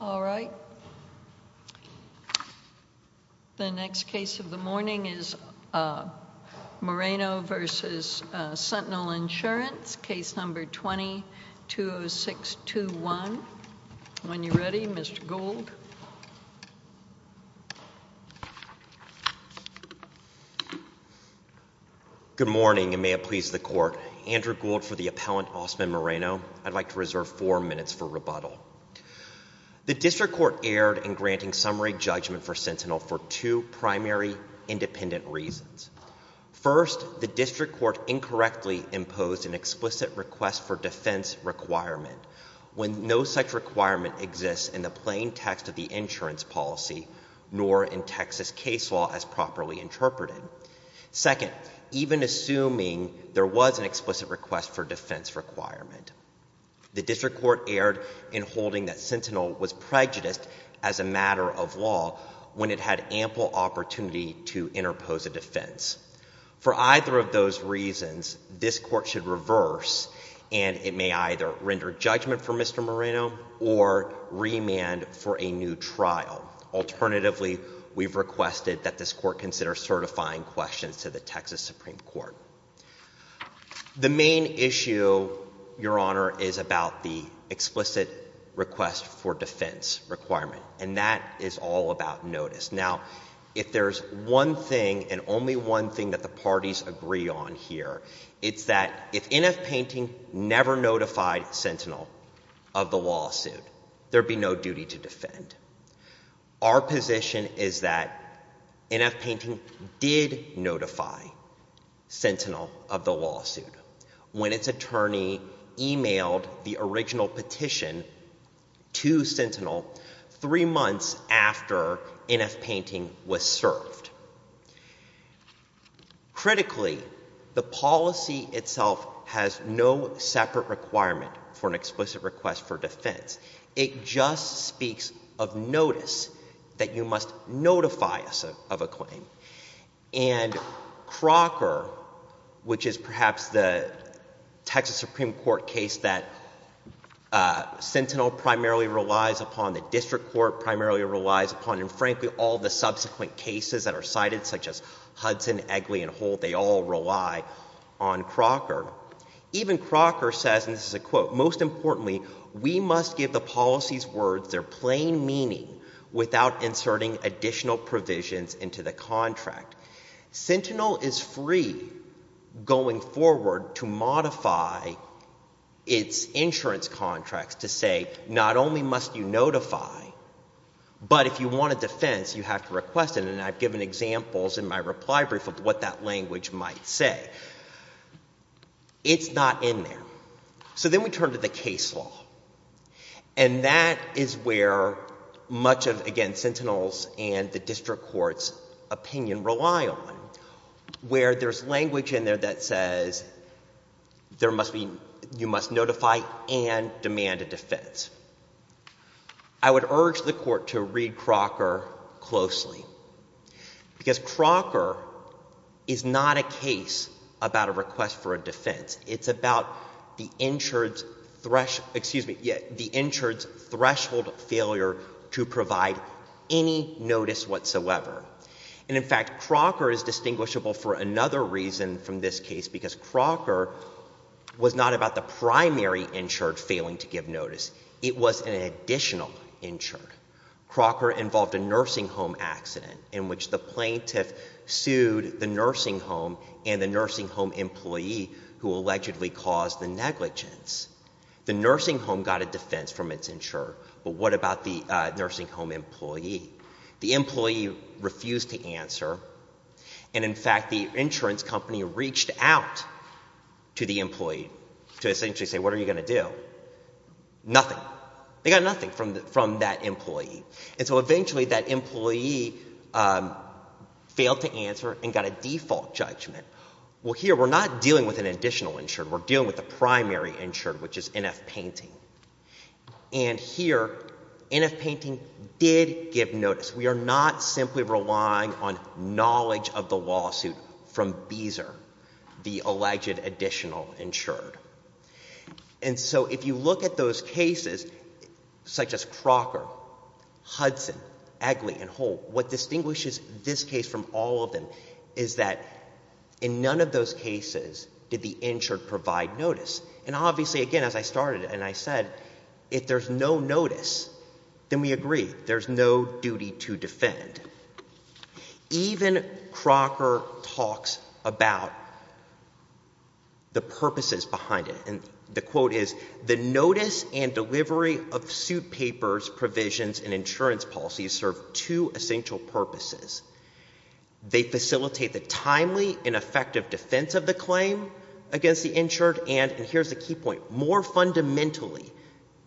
206.2. The next case of the morning is Moreno v. Sentinel Insurance, Case No. 20-20621. When you're ready, Mr. Gould. Good morning, and may it please the Court. Andrew Gould for the appellant, Osman Moreno. I'd like to reserve four minutes for rebuttal. The District Court erred in granting summary judgment for Sentinel for two primary independent reasons. First, the District Court incorrectly imposed an explicit request for defense requirement when no such requirement exists in the plain text of the insurance policy, nor in Texas case law as properly interpreted. Second, even assuming there was an explicit request for defense requirement, the District Court erred in holding that Sentinel was prejudiced as a matter of law when it had ample opportunity to interpose a defense. For either of those reasons, this Court should reverse, and it may either render judgment for Mr. Moreno or remand for a new trial. Alternatively, we've requested that this Court consider certifying questions to the Texas Supreme Court. The main issue, Your Honor, is about the explicit request for defense requirement, and that is all about notice. Now, if there's one thing, and only one thing that the parties agree on here, it's that if NF Painting never notified Sentinel of the lawsuit, there'd be no duty to defend. Our position is that NF Painting did notify Sentinel of the lawsuit when its attorney emailed the original petition to Sentinel, three months after NF Painting was served. Critically, the policy itself has no separate requirement for an explicit request for defense. It just speaks of notice, that you must notify us of a claim, and Crocker, which is perhaps the Texas Supreme Court case that Sentinel primarily relies upon, the District Court primarily relies upon, and frankly, all the subsequent cases that are cited, such as Hudson, Egley, and Holt, they all rely on Crocker. Even Crocker says, and this is a quote, most importantly, we must give the policies words their plain meaning without inserting additional provisions into the contract. Sentinel is free, going forward, to modify its insurance contracts to say, not only must you notify, but if you want a defense, you have to request it, and I've given examples in my reply brief of what that language might say. It's not in there. So then we turn to the case law, and that is where much of, again, Sentinel's and the District Court rely on, where there's language in there that says there must be, you must notify and demand a defense. I would urge the Court to read Crocker closely, because Crocker is not a case about a request for a defense. It's about the insured's, excuse me, the insured's threshold failure to provide any notice whatsoever. And, in fact, Crocker is distinguishable for another reason from this case, because Crocker was not about the primary insured failing to give notice. It was an additional insured. Crocker involved a nursing home accident in which the plaintiff sued the nursing home and the nursing home employee who allegedly caused the negligence. The nursing home got a defense from its insured, but what about the nursing home employee? The employee refused to answer, and, in fact, the insurance company reached out to the employee to essentially say, what are you going to do? Nothing. They got nothing from that employee. And so, eventually, that employee failed to answer and got a default judgment. Well, here, we're not dealing with an additional insured. We're dealing with a primary insured, which is NF Painting. And, here, NF Painting did give notice. We are not simply relying on knowledge of the lawsuit from Beezer, the alleged additional insured. And so, if you look at those cases, such as Crocker, Hudson, Egley, and Holt, what distinguishes this case from all of them is that in none of those cases did the insured provide notice. And, obviously, again, as I started and I said, if there's no notice, then we agree. There's no duty to defend. Even Crocker talks about the purposes behind it. And the quote is, the notice and delivery of suit papers, provisions, and insurance policies serve two essential purposes. They facilitate the timely and effective defense of the claim against the insured. And, here's the key point, more fundamentally,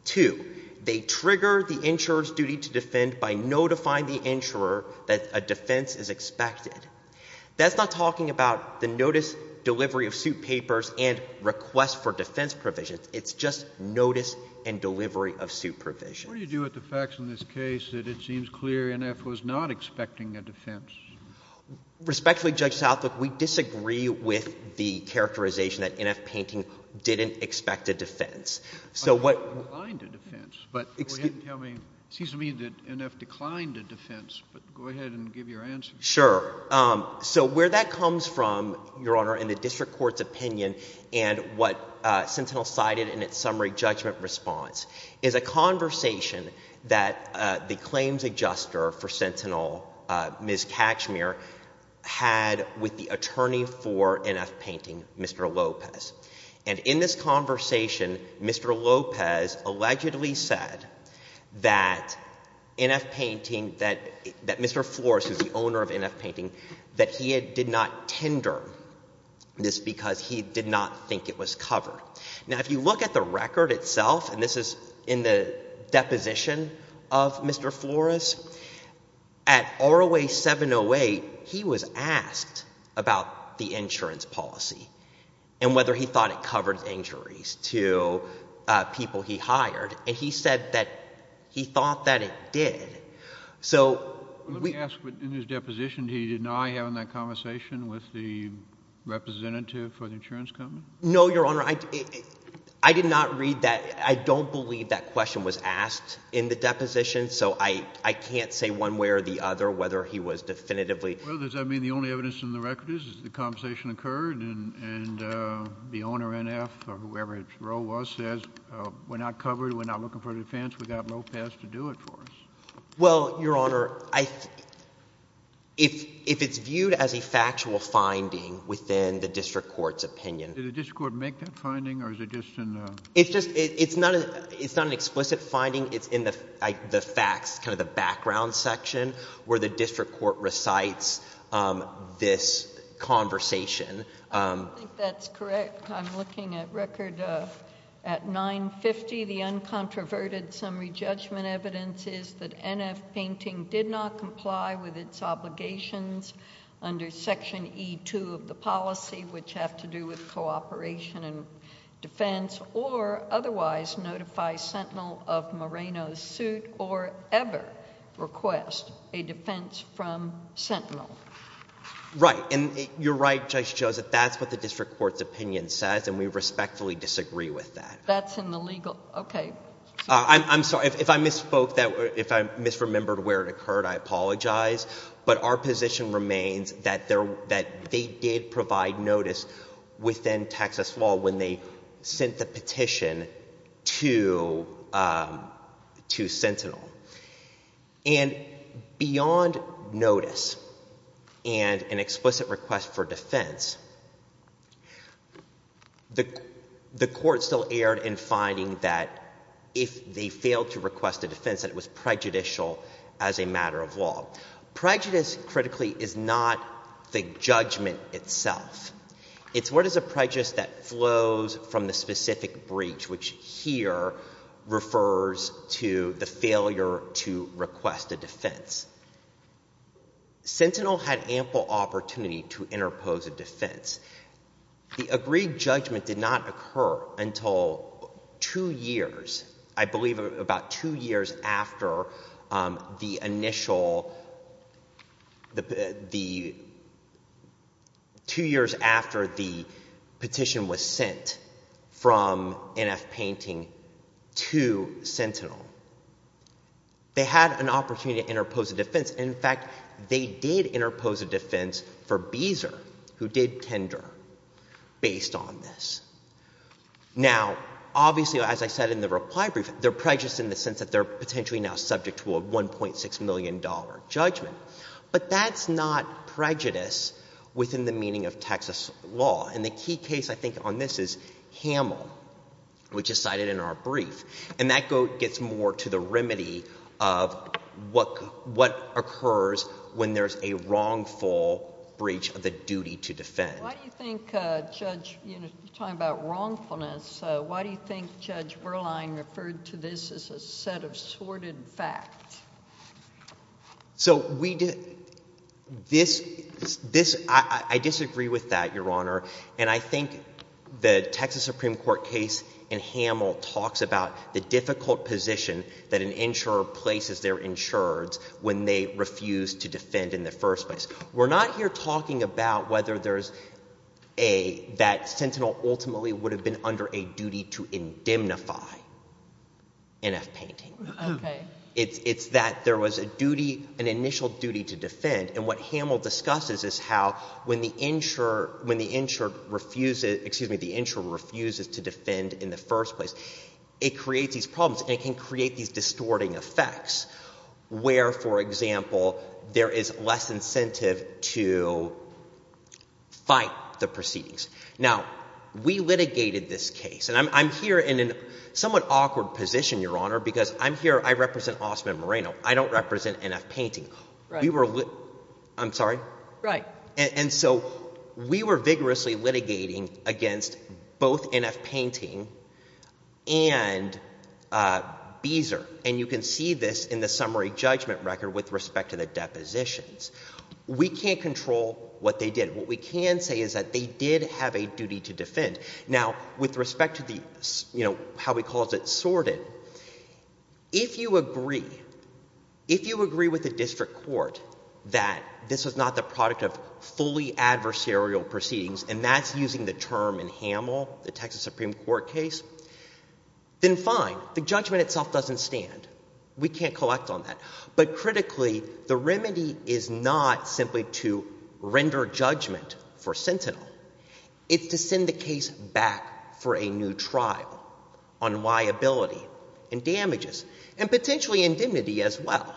too, they trigger the insurer's duty to defend by notifying the insurer that a defense is expected. That's not talking about the notice, delivery of suit papers, and request for defense provisions. It's just notice and delivery of suit provisions. What do you do with the facts in this case that it seems clear NF was not expecting a defense? Respectfully, Judge Southlook, we disagree with the characterization that NF Painting didn't expect a defense. So what It declined a defense. But go ahead and tell me. It seems to me that NF declined a defense, but go ahead and give your answer. Sure. So where that comes from, Your Honor, in the district court's opinion and what Sentinel cited in its summary judgment response is a conversation that the claims adjuster for Sentinel, Ms. Catchmere, had with the attorney for NF Painting, Mr. Lopez. And in this conversation, Mr. Lopez allegedly said that NF Painting, that Mr. Flores, who is the owner of NF Painting, that he did not tender this because he did not think it was covered. Now, if you look at the record itself, and this is in the deposition of Mr. Flores, at ROA 708, he was asked about the insurance policy and whether he thought it covered injuries to people he hired, and he said that he thought that it did. So Let me ask, in his deposition, did he deny having that conversation with the representative for the insurance company? No, Your Honor. I did not read that. I don't believe that question was asked in the deposition, so I can't say one way or the other whether he was definitively Well, does that mean the only evidence in the record is that the conversation occurred and the owner, NF, or whoever its role was, says we're not covered, we're not looking for defense, we've got Lopez to do it for us? Well, Your Honor, if it's viewed as a factual finding within the district court's opinion Did the district court make that finding, or is it just in the It's just, it's not an explicit finding. It's in the facts, kind of the background section where the district court recites this conversation. I don't think that's correct. I'm looking at record at 950, the uncontroverted summary judgment evidence is that NF Painting did not comply with its obligations under Section E2 of the policy, which have to do with cooperation and defense, or otherwise notify Sentinel of Moreno's suit, or ever request a defense from Sentinel. Right, and you're right, Judge Joseph, that's what the district court's opinion says, and we respectfully disagree with that. That's in the legal, okay. I'm sorry, if I misspoke, if I misremembered where it occurred, I apologize, but our position remains that they did provide notice within Texas law when they sent the petition to Sentinel. And beyond notice and an explicit request for defense, the court still erred in finding that if they failed to request a defense, that it was prejudicial as a matter of law. Prejudice, critically, is not the judgment itself. It's what is a prejudice that flows from the specific breach, which here refers to the failure to request a defense. Sentinel had ample opportunity to interpose a defense. The agreed judgment did not occur until two years, I believe about two years after the initial, the two years after the petition was sent from NF Painting to Sentinel. They had an opportunity to interpose a defense, and in fact, they did interpose a defense for Beezer, who did tender, based on this. Now, obviously, as I said in the reply brief, they're prejudiced in the sense that they're potentially now subject to a $1.6 million judgment. But that's not prejudice within the meaning of Texas law. And the key case, I think, on this is Hamel, which is cited in our brief. And that gets more to the remedy of what occurs when there's a wrongful breach of the duty to defend. Why do you think Judge, you know, you're talking about wrongfulness, so why do you think Judge So, we did, this, this, I disagree with that, Your Honor. And I think the Texas Supreme Court case in Hamel talks about the difficult position that an insurer places their insureds when they refuse to defend in the first place. We're not here talking about whether there's a, that Sentinel ultimately would have been under a duty to indemnify NF painting. It's that there was a duty, an initial duty to defend, and what Hamel discusses is how when the insurer, when the insurer refuses, excuse me, the insurer refuses to defend in the first place, it creates these problems, and it can create these distorting effects where, for example, there is less incentive to fight the proceedings. Now, we litigated this case, and I'm here in a somewhat awkward position, Your Honor, because I'm here, I represent Osman Moreno. I don't represent NF painting. Right. We were, I'm sorry? Right. And so, we were vigorously litigating against both NF painting and Beezer. And you can see this in the summary judgment record with respect to the depositions. We can't control what they did. What we can say is that they did have a duty to defend. Now, with respect to the, you know, how we called it, sorted, if you agree, if you agree with the district court that this was not the product of fully adversarial proceedings, and that's using the term in Hamel, the Texas Supreme Court case, then fine. The judgment itself doesn't stand. We can't collect on that. But critically, the remedy is not simply to render judgment for Sentinel. It's to send the case back for a new trial on liability and damages, and potentially indemnity as well.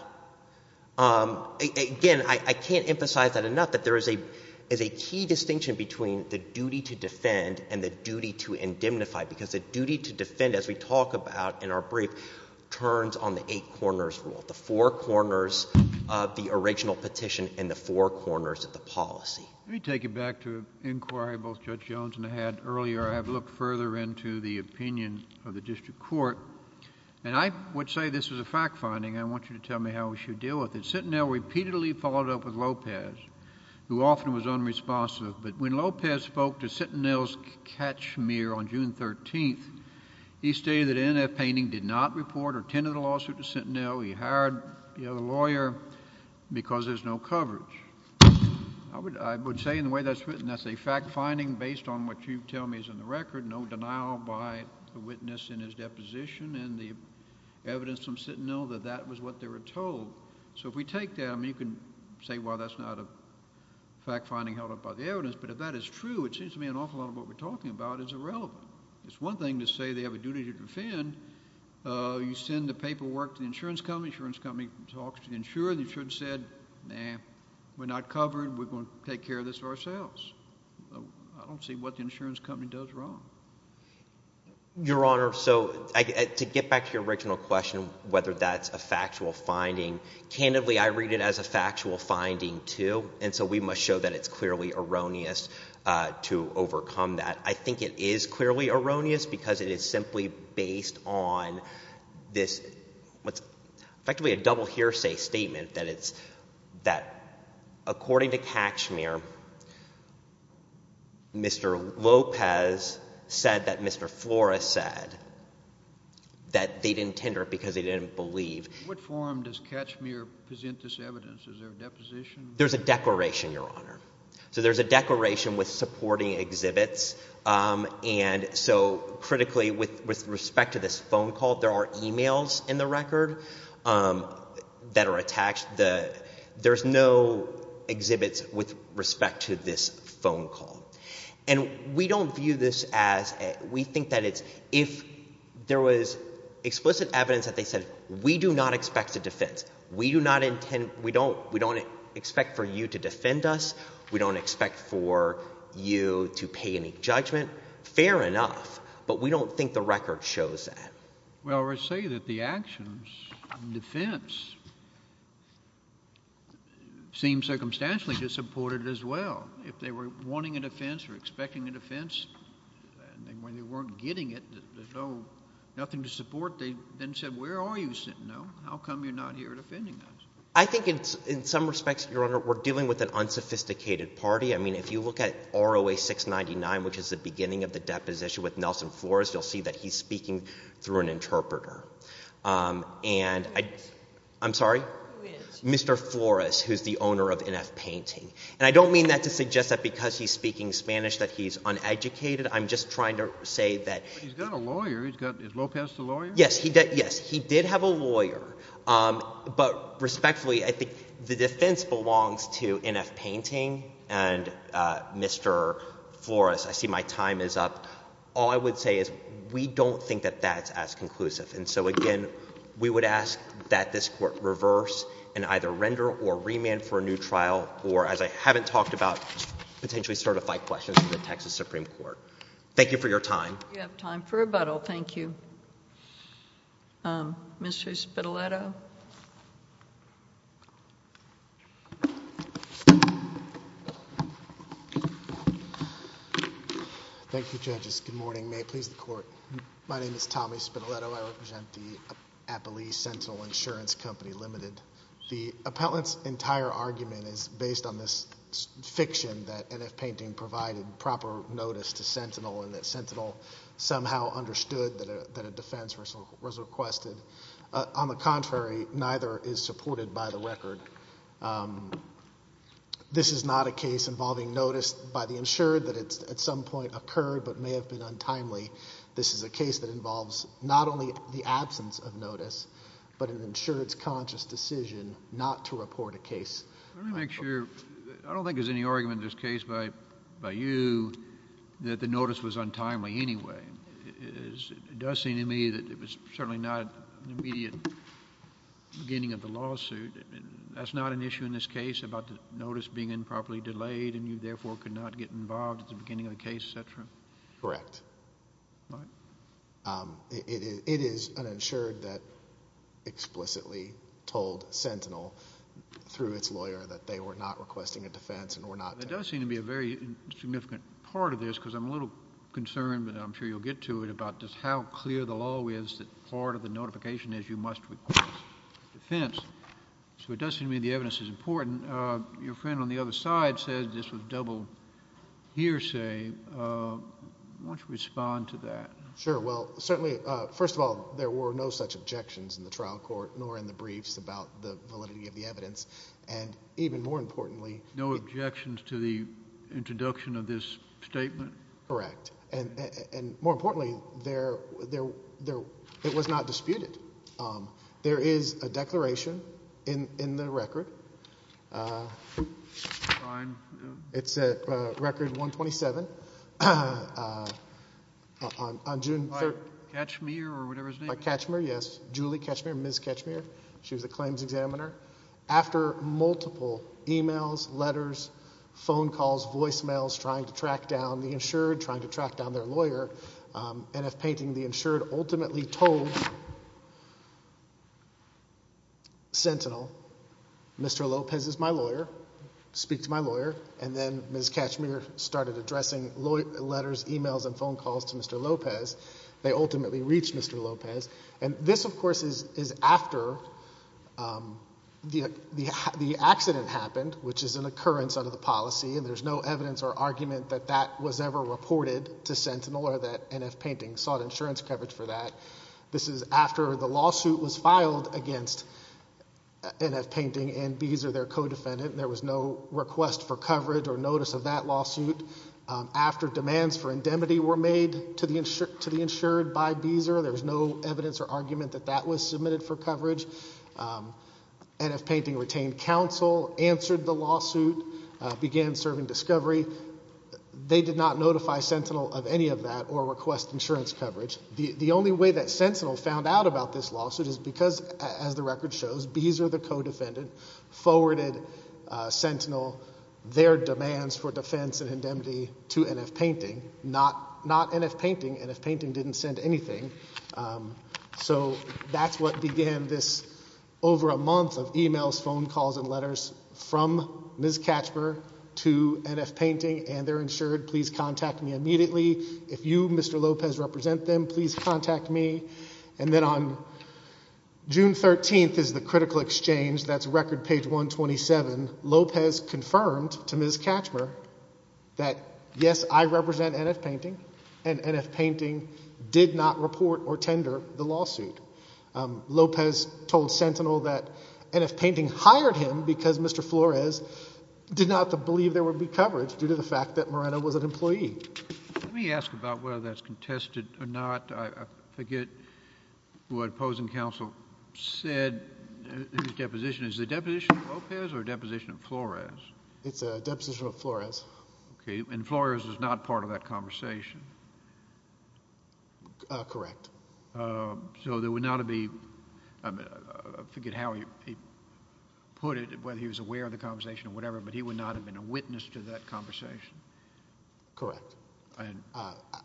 Again, I can't emphasize that enough, that there is a key distinction between the duty to defend and the duty to indemnify, because the duty to defend, as we talk about in our four corners of the original petition and the four corners of the policy. Let me take you back to an inquiry both Judge Jones and I had earlier. I have looked further into the opinion of the district court, and I would say this was a fact finding. I want you to tell me how we should deal with it. Sentinel repeatedly followed up with Lopez, who often was unresponsive, but when Lopez spoke to Sentinel's catchmere on June 13th, he stated that N.F. Painting did not report or tend to the lawsuit to Sentinel. He hired the other lawyer because there's no coverage. I would say in the way that's written, that's a fact finding based on what you tell me is in the record, no denial by the witness in his deposition and the evidence from Sentinel that that was what they were told. So if we take them, you can say, well, that's not a fact finding held up by the evidence, but if that is true, it seems to me an awful lot of what we're talking about is irrelevant. It's one thing to say they have a duty to defend. You send the paperwork to the insurance company, the insurance company talks to the insurer, the insurer said, nah, we're not covered, we're going to take care of this ourselves. I don't see what the insurance company does wrong. Your Honor, so to get back to your original question, whether that's a factual finding, candidly, I read it as a factual finding, too, and so we must show that it's clearly erroneous to overcome that. I think it is clearly erroneous because it is simply based on this, what's effectively a double hearsay statement that it's, that according to Katchmere, Mr. Lopez said that Mr. Flores said that they didn't tender it because they didn't believe. What form does Katchmere present this evidence, is there a deposition? There's a declaration, Your Honor. So there's a declaration with supporting exhibits, and so critically, with respect to this phone call, there are emails in the record that are attached, there's no exhibits with respect to this phone call. And we don't view this as, we think that it's, if there was explicit evidence that they said, we do not expect a defense, we do not intend, we don't expect for you to defend us, we don't expect for you to pay any judgment, fair enough, but we don't think the record shows that. Well, I would say that the actions in defense seem circumstantially to support it as well. If they were wanting a defense or expecting a defense, and when they weren't getting it, there's no, nothing to support, they then said, where are you sitting now, how come you're not here defending us? I think in some respects, Your Honor, we're dealing with an unsophisticated party, I mean, if you look at ROA 699, which is the beginning of the deposition with Nelson Flores, you'll see that he's speaking through an interpreter. And I, I'm sorry, Mr. Flores, who's the owner of NF Painting, and I don't mean that to suggest that because he's speaking Spanish that he's uneducated, I'm just trying to say that But he's got a lawyer, he's got, is Lopez the lawyer? Yes, he did, yes, he did have a lawyer. But respectfully, I think the defense belongs to NF Painting and Mr. Flores, I see my time is up. All I would say is, we don't think that that's as conclusive, and so again, we would ask that this Court reverse and either render or remand for a new trial, or as I haven't talked about, potentially certify questions to the Texas Supreme Court. Thank you for your time. We have time for rebuttal. Thank you. Mr. Spitaletto. Thank you, Judges. Good morning. May it please the Court. My name is Tommy Spitaletto. I represent the Appalachian Sentinel Insurance Company Limited. The appellant's entire argument is based on this fiction that NF Painting provided proper notice to Sentinel and that Sentinel somehow understood that a defense was requested. On the contrary, neither is supported by the record. This is not a case involving notice by the insured that at some point occurred but may have been untimely. This is a case that involves not only the absence of notice, but an insured's conscious decision not to report a case. Let me make sure... I don't think there's any argument in this case by you that the notice was untimely anyway. It does seem to me that it was certainly not an immediate beginning of the lawsuit. That's not an issue in this case about the notice being improperly delayed and you therefore could not get involved at the beginning of the case, et cetera? Correct. All right. It is an insured that explicitly told Sentinel through its lawyer that they were not requesting a defense and were not... That does seem to be a very significant part of this because I'm a little concerned, but I'm sure you'll get to it, about just how clear the law is that part of the notification is you must request a defense. So it does seem to me the evidence is important. Your friend on the other side says this was double hearsay. Why don't you respond to that? Sure. Well, certainly, first of all, there were no such objections in the trial court nor in the briefs about the validity of the evidence. And even more importantly... No objections to the introduction of this statement? Correct. And more importantly, it was not disputed. There is a declaration in the record. It's Record 127 on June... By Ketchmere or whatever his name is? By Ketchmere, yes. Julie Ketchmere, Ms. Ketchmere. She was the claims examiner. After multiple emails, letters, phone calls, voicemails, trying to track down the insured, trying to track down their lawyer, NF Painting, the insured ultimately told Sentinel, Mr. Lopez is my lawyer, speak to my lawyer. And then Ms. Ketchmere started addressing letters, emails, and phone calls to Mr. Lopez. They ultimately reached Mr. Lopez. And this, of course, is after the accident happened, which is an occurrence under the policy, and there's no evidence or argument that that was ever reported to Sentinel or that NF Painting sought insurance coverage for that. This is after the lawsuit was filed against NF Painting and Beezer, their co-defendant. There was no request for coverage or notice of that lawsuit. After demands for indemnity were made to the insured by Beezer, there was no evidence or argument that that was submitted for coverage. NF Painting retained counsel, answered the lawsuit, began serving discovery. They did not notify Sentinel of any of that or request insurance coverage. The only way that Sentinel found out about this lawsuit is because, as the record shows, Beezer, the co-defendant, forwarded Sentinel their demands for defense and indemnity to NF Painting. Not NF Painting. NF Painting didn't send anything. So that's what began this over a month of emails, phone calls, and letters from Ms. Ketchmere to NF Painting and their insured. Please contact me immediately. If you, Mr. Lopez, represent them, please contact me. And then on June 13th is the critical exchange. That's record page 127. Lopez confirmed to Ms. Ketchmere that, yes, I represent NF Painting, and NF Painting did not report or tender the lawsuit. Lopez told Sentinel that NF Painting hired him because Mr. Flores did not believe there was any evidence of NF Painting. Let me ask about whether that's contested or not. I forget what opposing counsel said in his deposition. Is it a deposition of Lopez or a deposition of Flores? It's a deposition of Flores. Okay. And Flores was not part of that conversation? Correct. So there would not have been, I forget how he put it, whether he was aware of the conversation or whatever, but he would not have been a witness to that conversation? Correct.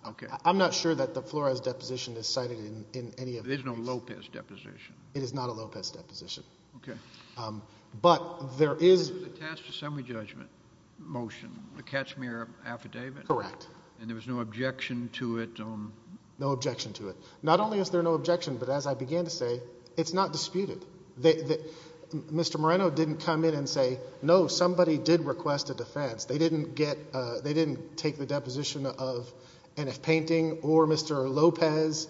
Okay. I'm not sure that the Flores deposition is cited in any of these. There's no Lopez deposition. It is not a Lopez deposition. Okay. But there is... It was attached to a semi-judgment motion, the Ketchmere affidavit? Correct. And there was no objection to it? No objection to it. Not only is there no objection, but as I began to say, it's not disputed. Mr. Moreno didn't come in and say, no, somebody did request a defense. They didn't take the deposition of NF Painting or Mr. Lopez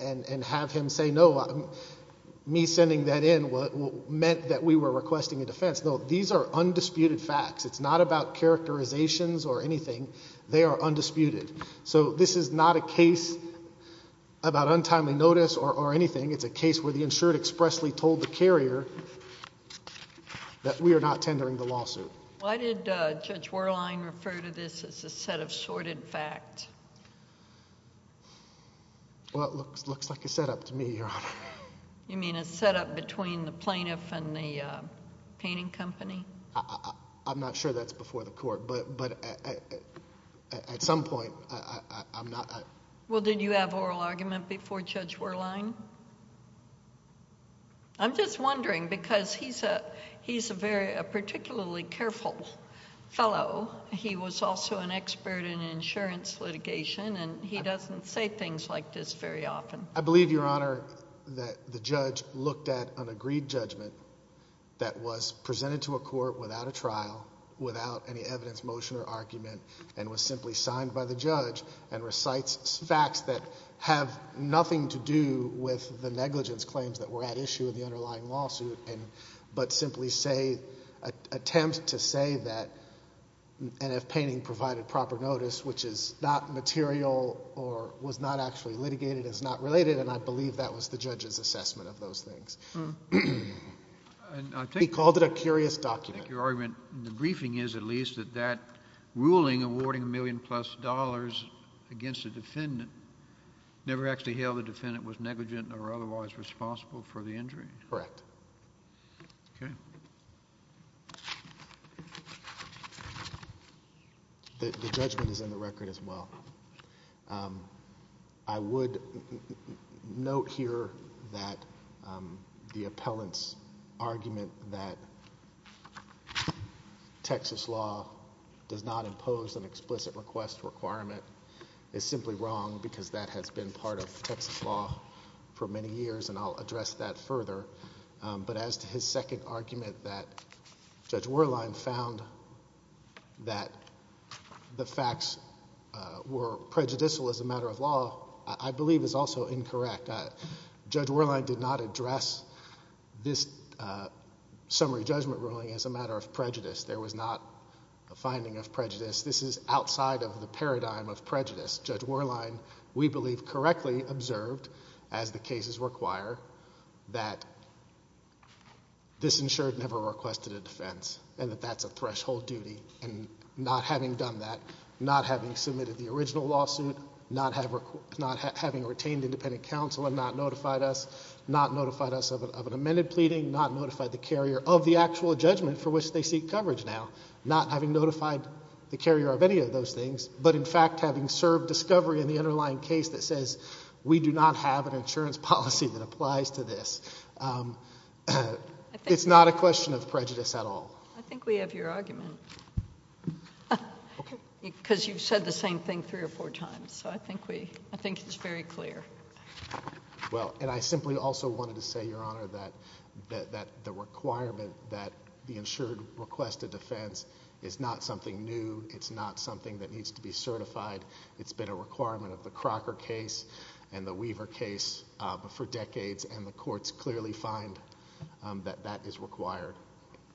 and have him say, no, me sending that in meant that we were requesting a defense. No, these are undisputed facts. It's not about characterizations or anything. They are undisputed. So this is not a case about untimely notice or anything. It's a case where the insured expressly told the carrier that we are not tendering the lawsuit. Why did Judge Werlein refer to this as a set of sordid facts? Well, it looks like a setup to me, Your Honor. You mean a setup between the plaintiff and the painting company? I'm not sure that's before the court, but at some point, I'm not... Well, did you have oral argument before Judge Werlein? I'm just wondering because he's a particularly careful fellow. He was also an expert in insurance litigation, and he doesn't say things like this very often. I believe, Your Honor, that the judge looked at an agreed judgment that was presented to a court without a trial, without any evidence, motion, or argument, and was simply signed by the judge and recites facts that have nothing to do with the negligence claims that were at issue in the underlying lawsuit but simply say, attempt to say that NF Painting provided proper notice, which is not material or was not actually litigated, is not related, and I believe that was the judge's assessment of those things. He called it a curious document. Your argument in the briefing is, at least, that that ruling awarding a million-plus dollars against the defendant never actually held the defendant was negligent or otherwise responsible for the injury? Correct. Okay. The judgment is in the record as well. I would note here that the appellant's argument that Texas law does not impose an explicit request requirement is simply wrong because that has been part of Texas law for many years, and I'll address that further. But as to his second argument that Judge Werlein found that the facts were prejudicial as a matter of law, I believe is also incorrect. Judge Werlein did not address this summary judgment ruling as a matter of prejudice. There was not a finding of prejudice. This is outside of the paradigm of prejudice. Judge Werlein, we believe, correctly observed, as the cases require, that this insured never requested a defense and that that's a threshold duty, and not having done that, not having submitted the original lawsuit, not having retained independent counsel and not notified us, not notified us of an amended pleading, not notified the carrier of the actual judgment for which they seek coverage now, not having notified the carrier of any of those things, but in fact having served discovery in the underlying case that says, we do not have an insurance policy that applies to this. It's not a question of prejudice at all. I think we have your argument because you've said the same thing three or four times, so I think it's very clear. Well, and I simply also wanted to say, Your Honor, that the requirement that the insured request a defense is not something new. It's not something that needs to be certified. It's been a requirement of the Crocker case and the Weaver case for decades, and the courts clearly find that that is required.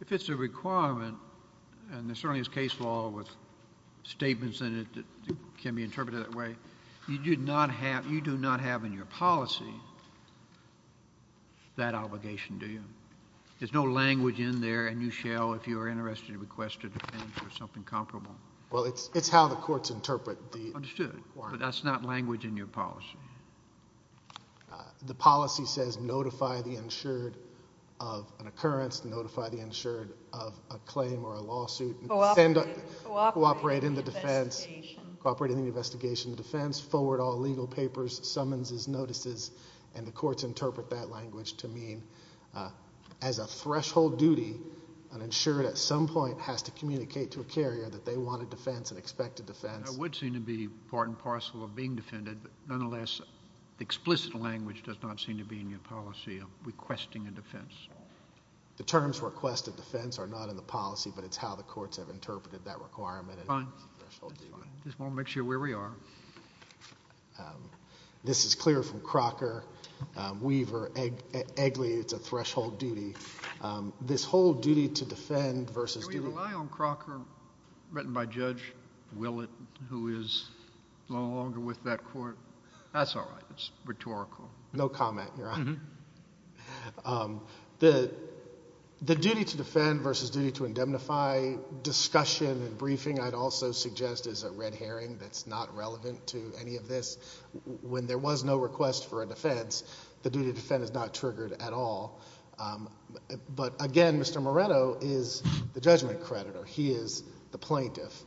If it's a requirement, and there certainly is case law with statements in it that can be interpreted that way, you do not have in your policy that obligation, do you? There's no language in there, and you shall, if you are interested, request a defense or something comparable. Well, it's how the courts interpret the requirement. Understood. But that's not language in your policy. The policy says notify the insured of an occurrence, notify the insured of a claim or a lawsuit. Cooperate in the investigation. Cooperate in the investigation. Forward all legal papers, summonses, notices, and the courts interpret that language to mean as a threshold duty, an insured at some point has to communicate to a carrier that they want a defense and expect a defense. That would seem to be part and parcel of being defended, but nonetheless the explicit language does not seem to be in your policy of requesting a defense. The terms request a defense are not in the policy, but it's how the courts have interpreted that requirement. Fine. Just want to make sure where we are. This is clear from Crocker, Weaver, Eggly. It's a threshold duty. This whole duty to defend versus duty. Can we rely on Crocker, written by Judge Willett, who is no longer with that court? That's all right. It's rhetorical. No comment, Your Honor. The duty to defend versus duty to indemnify discussion and briefing I'd also suggest is a red herring that's not relevant to any of this. When there was no request for a defense, the duty to defend is not triggered at all. But, again, Mr. Moretto is the judgment creditor. He is the plaintiff.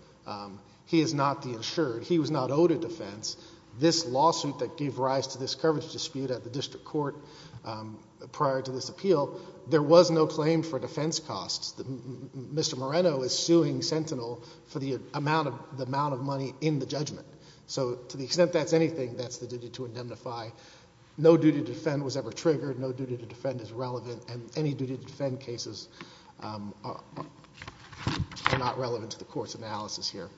He is not the insured. He was not owed a defense. This lawsuit that gave rise to this coverage dispute at the district court prior to this appeal, there was no claim for defense costs. Mr. Moretto is suing Sentinel for the amount of money in the judgment. So to the extent that's anything, that's the duty to indemnify. No duty to defend was ever triggered. No duty to defend is relevant. And any duty to defend cases are not relevant to the court's analysis here.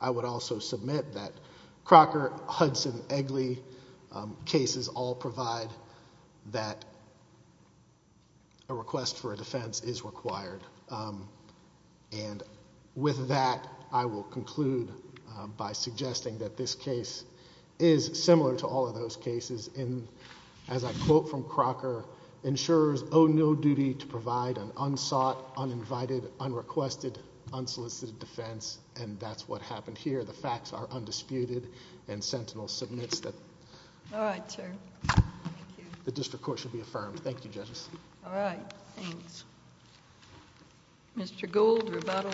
I would also submit that Crocker, Hudson, Eggley cases all provide that a request for a defense is required. And with that, I will conclude by suggesting that this case is similar to all of those cases. As I quote from Crocker, insurers owe no duty to provide an unsought, uninvited, unrequested, unsolicited defense. And that's what happened here. The facts are undisputed. And Sentinel submits that. All right, sir. The district court should be affirmed. Thank you, judges. All right. Thanks. Mr. Gould, rebuttal.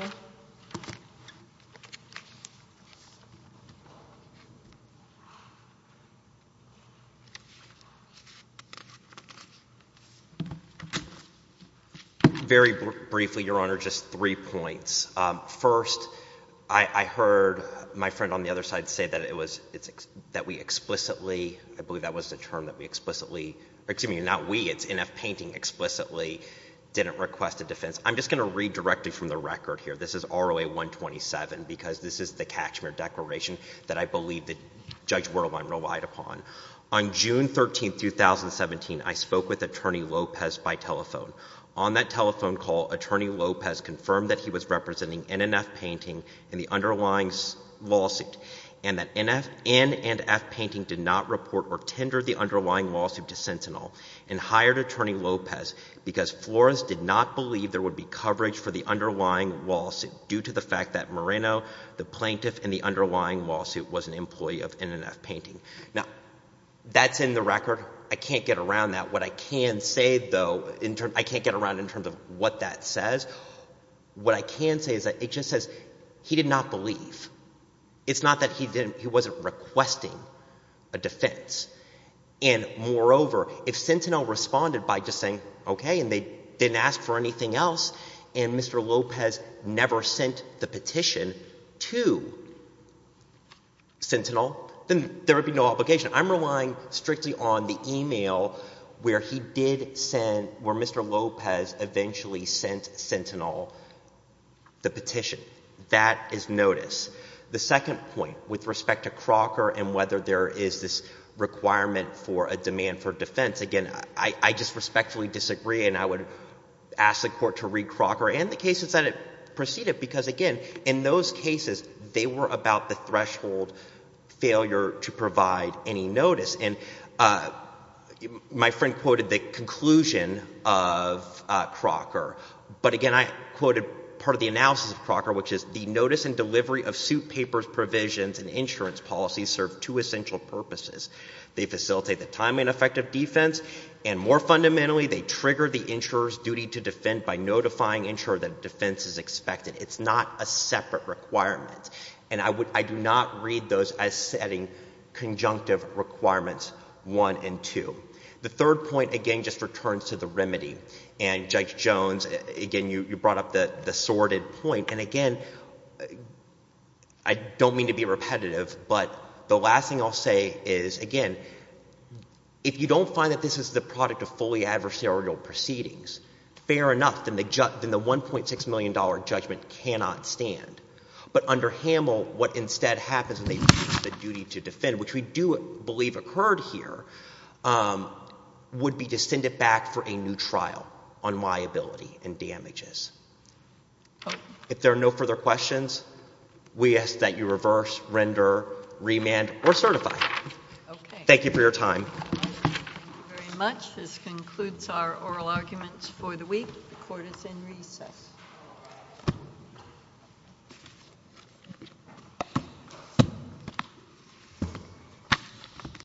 Very briefly, Your Honor, just three points. First, I heard my friend on the other side say that it was, that we explicitly, I believe that was the term, that we explicitly, excuse me, not we, it's NF Painting, explicitly didn't request a defense. I'm just going to read directly from the record here. This is ROA-127 because this is the Cachemire Declaration that I believe that Judge Werle and I relied upon. On June 13, 2017, I spoke with Attorney Lopez by telephone. On that telephone call, Attorney Lopez confirmed that he was representing NNF Painting in the underlying lawsuit and that NNF Painting did not report or tender the underlying lawsuit to Sentinel and hired Attorney Lopez because Florence did not believe there would be coverage for the underlying lawsuit due to the fact that Moreno, the plaintiff in the underlying lawsuit, was an employee of NNF Painting. Now, that's in the record. I can't get around that. What I can say, though, I can't get around in terms of what that says. What I can say is that it just says he did not believe. It's not that he didn't, he wasn't requesting a defense. And moreover, if Sentinel responded by just saying okay and they didn't ask for anything else and Mr. Lopez never sent the petition to Sentinel, then there would be no obligation. I'm relying strictly on the email where he did send, where Mr. Lopez eventually sent Sentinel the petition. That is notice. The second point with respect to Crocker and whether there is this requirement for a demand for defense, again, I just respectfully disagree and I would ask the Court to read Crocker and the cases that it preceded because, again, in those cases, they were about the threshold failure to provide any notice. And my friend quoted the conclusion of Crocker, but again, I quoted part of the analysis of Crocker, which is the notice and delivery of suit papers, provisions, and insurance policies serve two essential purposes. They facilitate the time and effect of defense, and more fundamentally, they trigger the insurer's duty to defend by notifying the insurer that a defense is expected. It's not a separate requirement. And I do not read those as setting conjunctive requirements one and two. The third point, again, just returns to the remedy. And Judge Jones, again, you brought up the sordid point. And again, I don't mean to be repetitive, but the last thing I'll say is, again, if you don't find that this is the product of fully adversarial proceedings, fair enough, then the $1.6 million judgment cannot stand. But under Hamel, what instead happens when they lose the duty to defend, which we do believe occurred here, would be to send it back for a new trial on liability and damages. If there are no further questions, we ask that you reverse, render, remand, or certify. Thank you for your time. Thank you very much. This concludes our oral arguments for the week. The court is in recess.